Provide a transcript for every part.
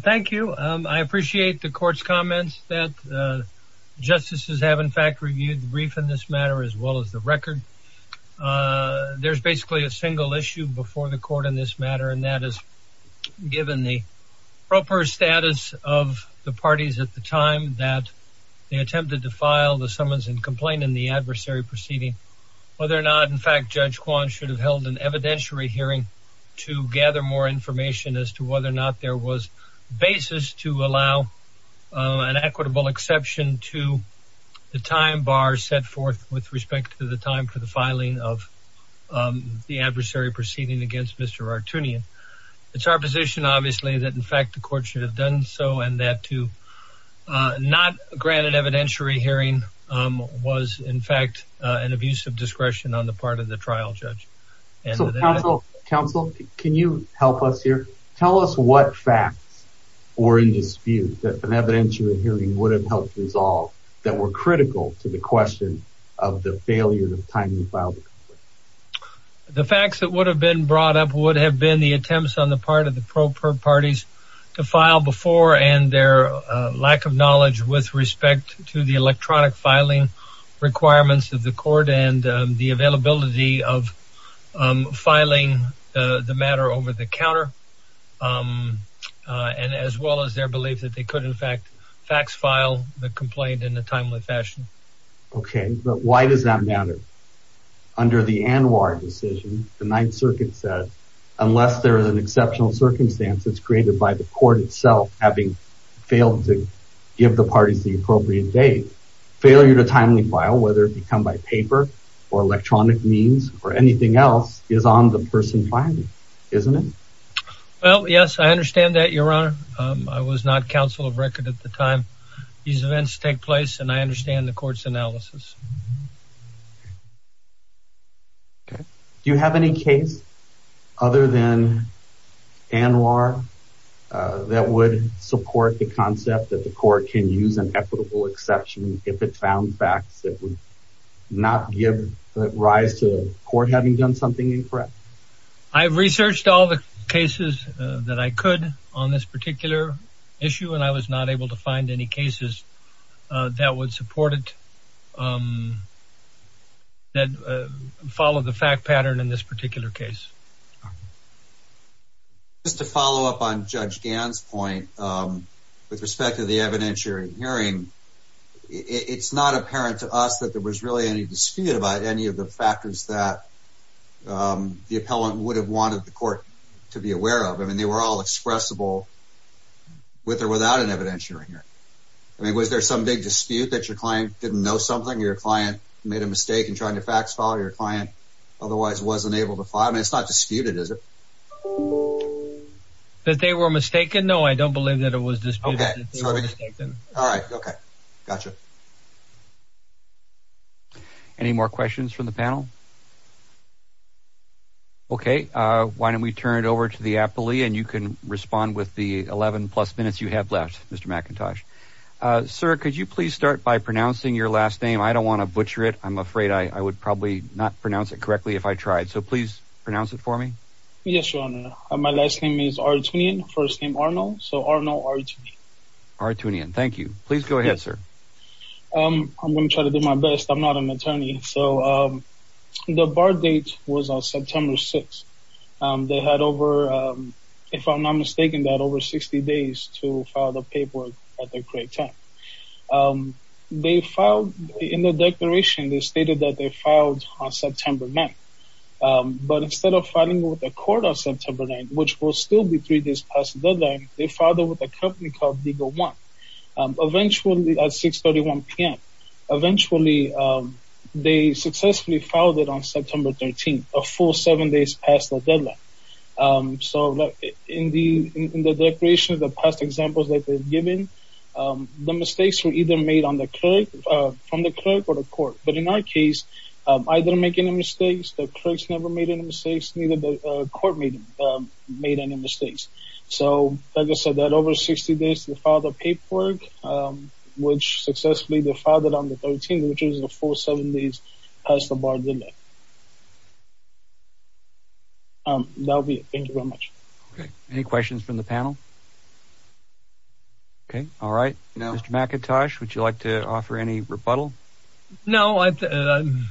Thank you. I appreciate the court's comments that justices have in fact reviewed the brief in this matter as well as the record. There's basically a single issue before the court in this matter and that is given the proper status of the parties at the time that they attempted to file the summons and complaint in the adversary proceeding whether or not in fact Judge Kwan should have held an evidentiary hearing to gather more information as to whether or was basis to allow an equitable exception to the time bar set forth with respect to the time for the filing of the adversary proceeding against Mr. Arutyunyan. It's our position obviously that in fact the court should have done so and that to not grant an evidentiary hearing was in fact an abuse of discretion on the part of the trial judge. Counsel can you help us here tell us what facts were in dispute that an evidentiary hearing would have helped resolve that were critical to the question of the failure of time to file the complaint? The facts that would have been brought up would have been the attempts on the part of the pro-per parties to file before and their lack of knowledge with respect to the electronic filing requirements of the court and the and as well as their belief that they could in fact fax file the complaint in a timely fashion. Okay but why does that matter? Under the ANWR decision the Ninth Circuit said unless there is an exceptional circumstance that's created by the court itself having failed to give the parties the appropriate date failure to timely file whether it become by paper or electronic means or anything else is on the person filing isn't it? Well yes I understand that your honor I was not counsel of record at the time these events take place and I understand the court's analysis. Do you have any case other than ANWR that would support the concept that the court can use an equitable exception if it found facts not give rise to the court having done something incorrect? I've researched all the cases that I could on this particular issue and I was not able to find any cases that would support it that follow the fact pattern in this particular case. Just to follow up on Judge Gann's point with respect to the us that there was really any dispute about any of the factors that the appellant would have wanted the court to be aware of I mean they were all expressible with or without an evidentiary here. I mean was there some big dispute that your client didn't know something your client made a mistake in trying to fax file your client otherwise wasn't able to file? I mean it's not disputed is it? That they were mistaken no I don't believe that it was disputed. All right okay gotcha. Any more questions from the panel? Okay why don't we turn it over to the appellee and you can respond with the 11 plus minutes you have left Mr. McIntosh. Sir could you please start by pronouncing your last name I don't want to butcher it I'm afraid I would probably not pronounce it correctly if I tried so please pronounce it for me. Yes your honor my last name is Artunian first name Arnold so Arnold Artunian. Artunian thank you please go ahead sir. I'm gonna try to do my best I'm not an attorney so the bar date was on September 6th they had over if I'm not mistaken that over 60 days to file the paperwork at the great time. They filed in the declaration they stated that they filed on September 9th but instead of filing with the court on September 9th which will still be three days past the deadline they filed it with a company called legal one eventually at 631 p.m. eventually they successfully filed it on September 13th a full seven days past the deadline so in the in the declaration of the past examples that they've given the mistakes were either made on the clerk from the clerk or the court but in our case I didn't make any mistakes the court made made any mistakes so like I said that over 60 days to file the paperwork which successfully they filed it on the 13th which is the full seven days past the bar deadline. That'll be it thank you very much. Okay any questions from the panel? Okay all right now Mr. McIntosh would you like to offer any rebuttal? No the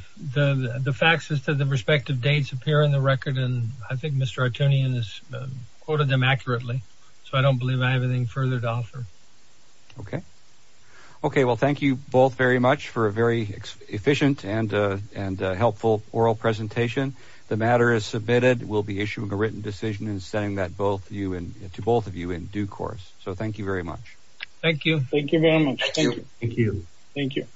the facts as to the respective dates appear in the record and I think Mr. Artunian has quoted them accurately so I don't believe I have anything further to offer. Okay okay well thank you both very much for a very efficient and and helpful oral presentation the matter is submitted we'll be issuing a written decision and sending that both you and to both of you in due course so thank you very much. Thank you. Thank you very much. Thank you. Thank you.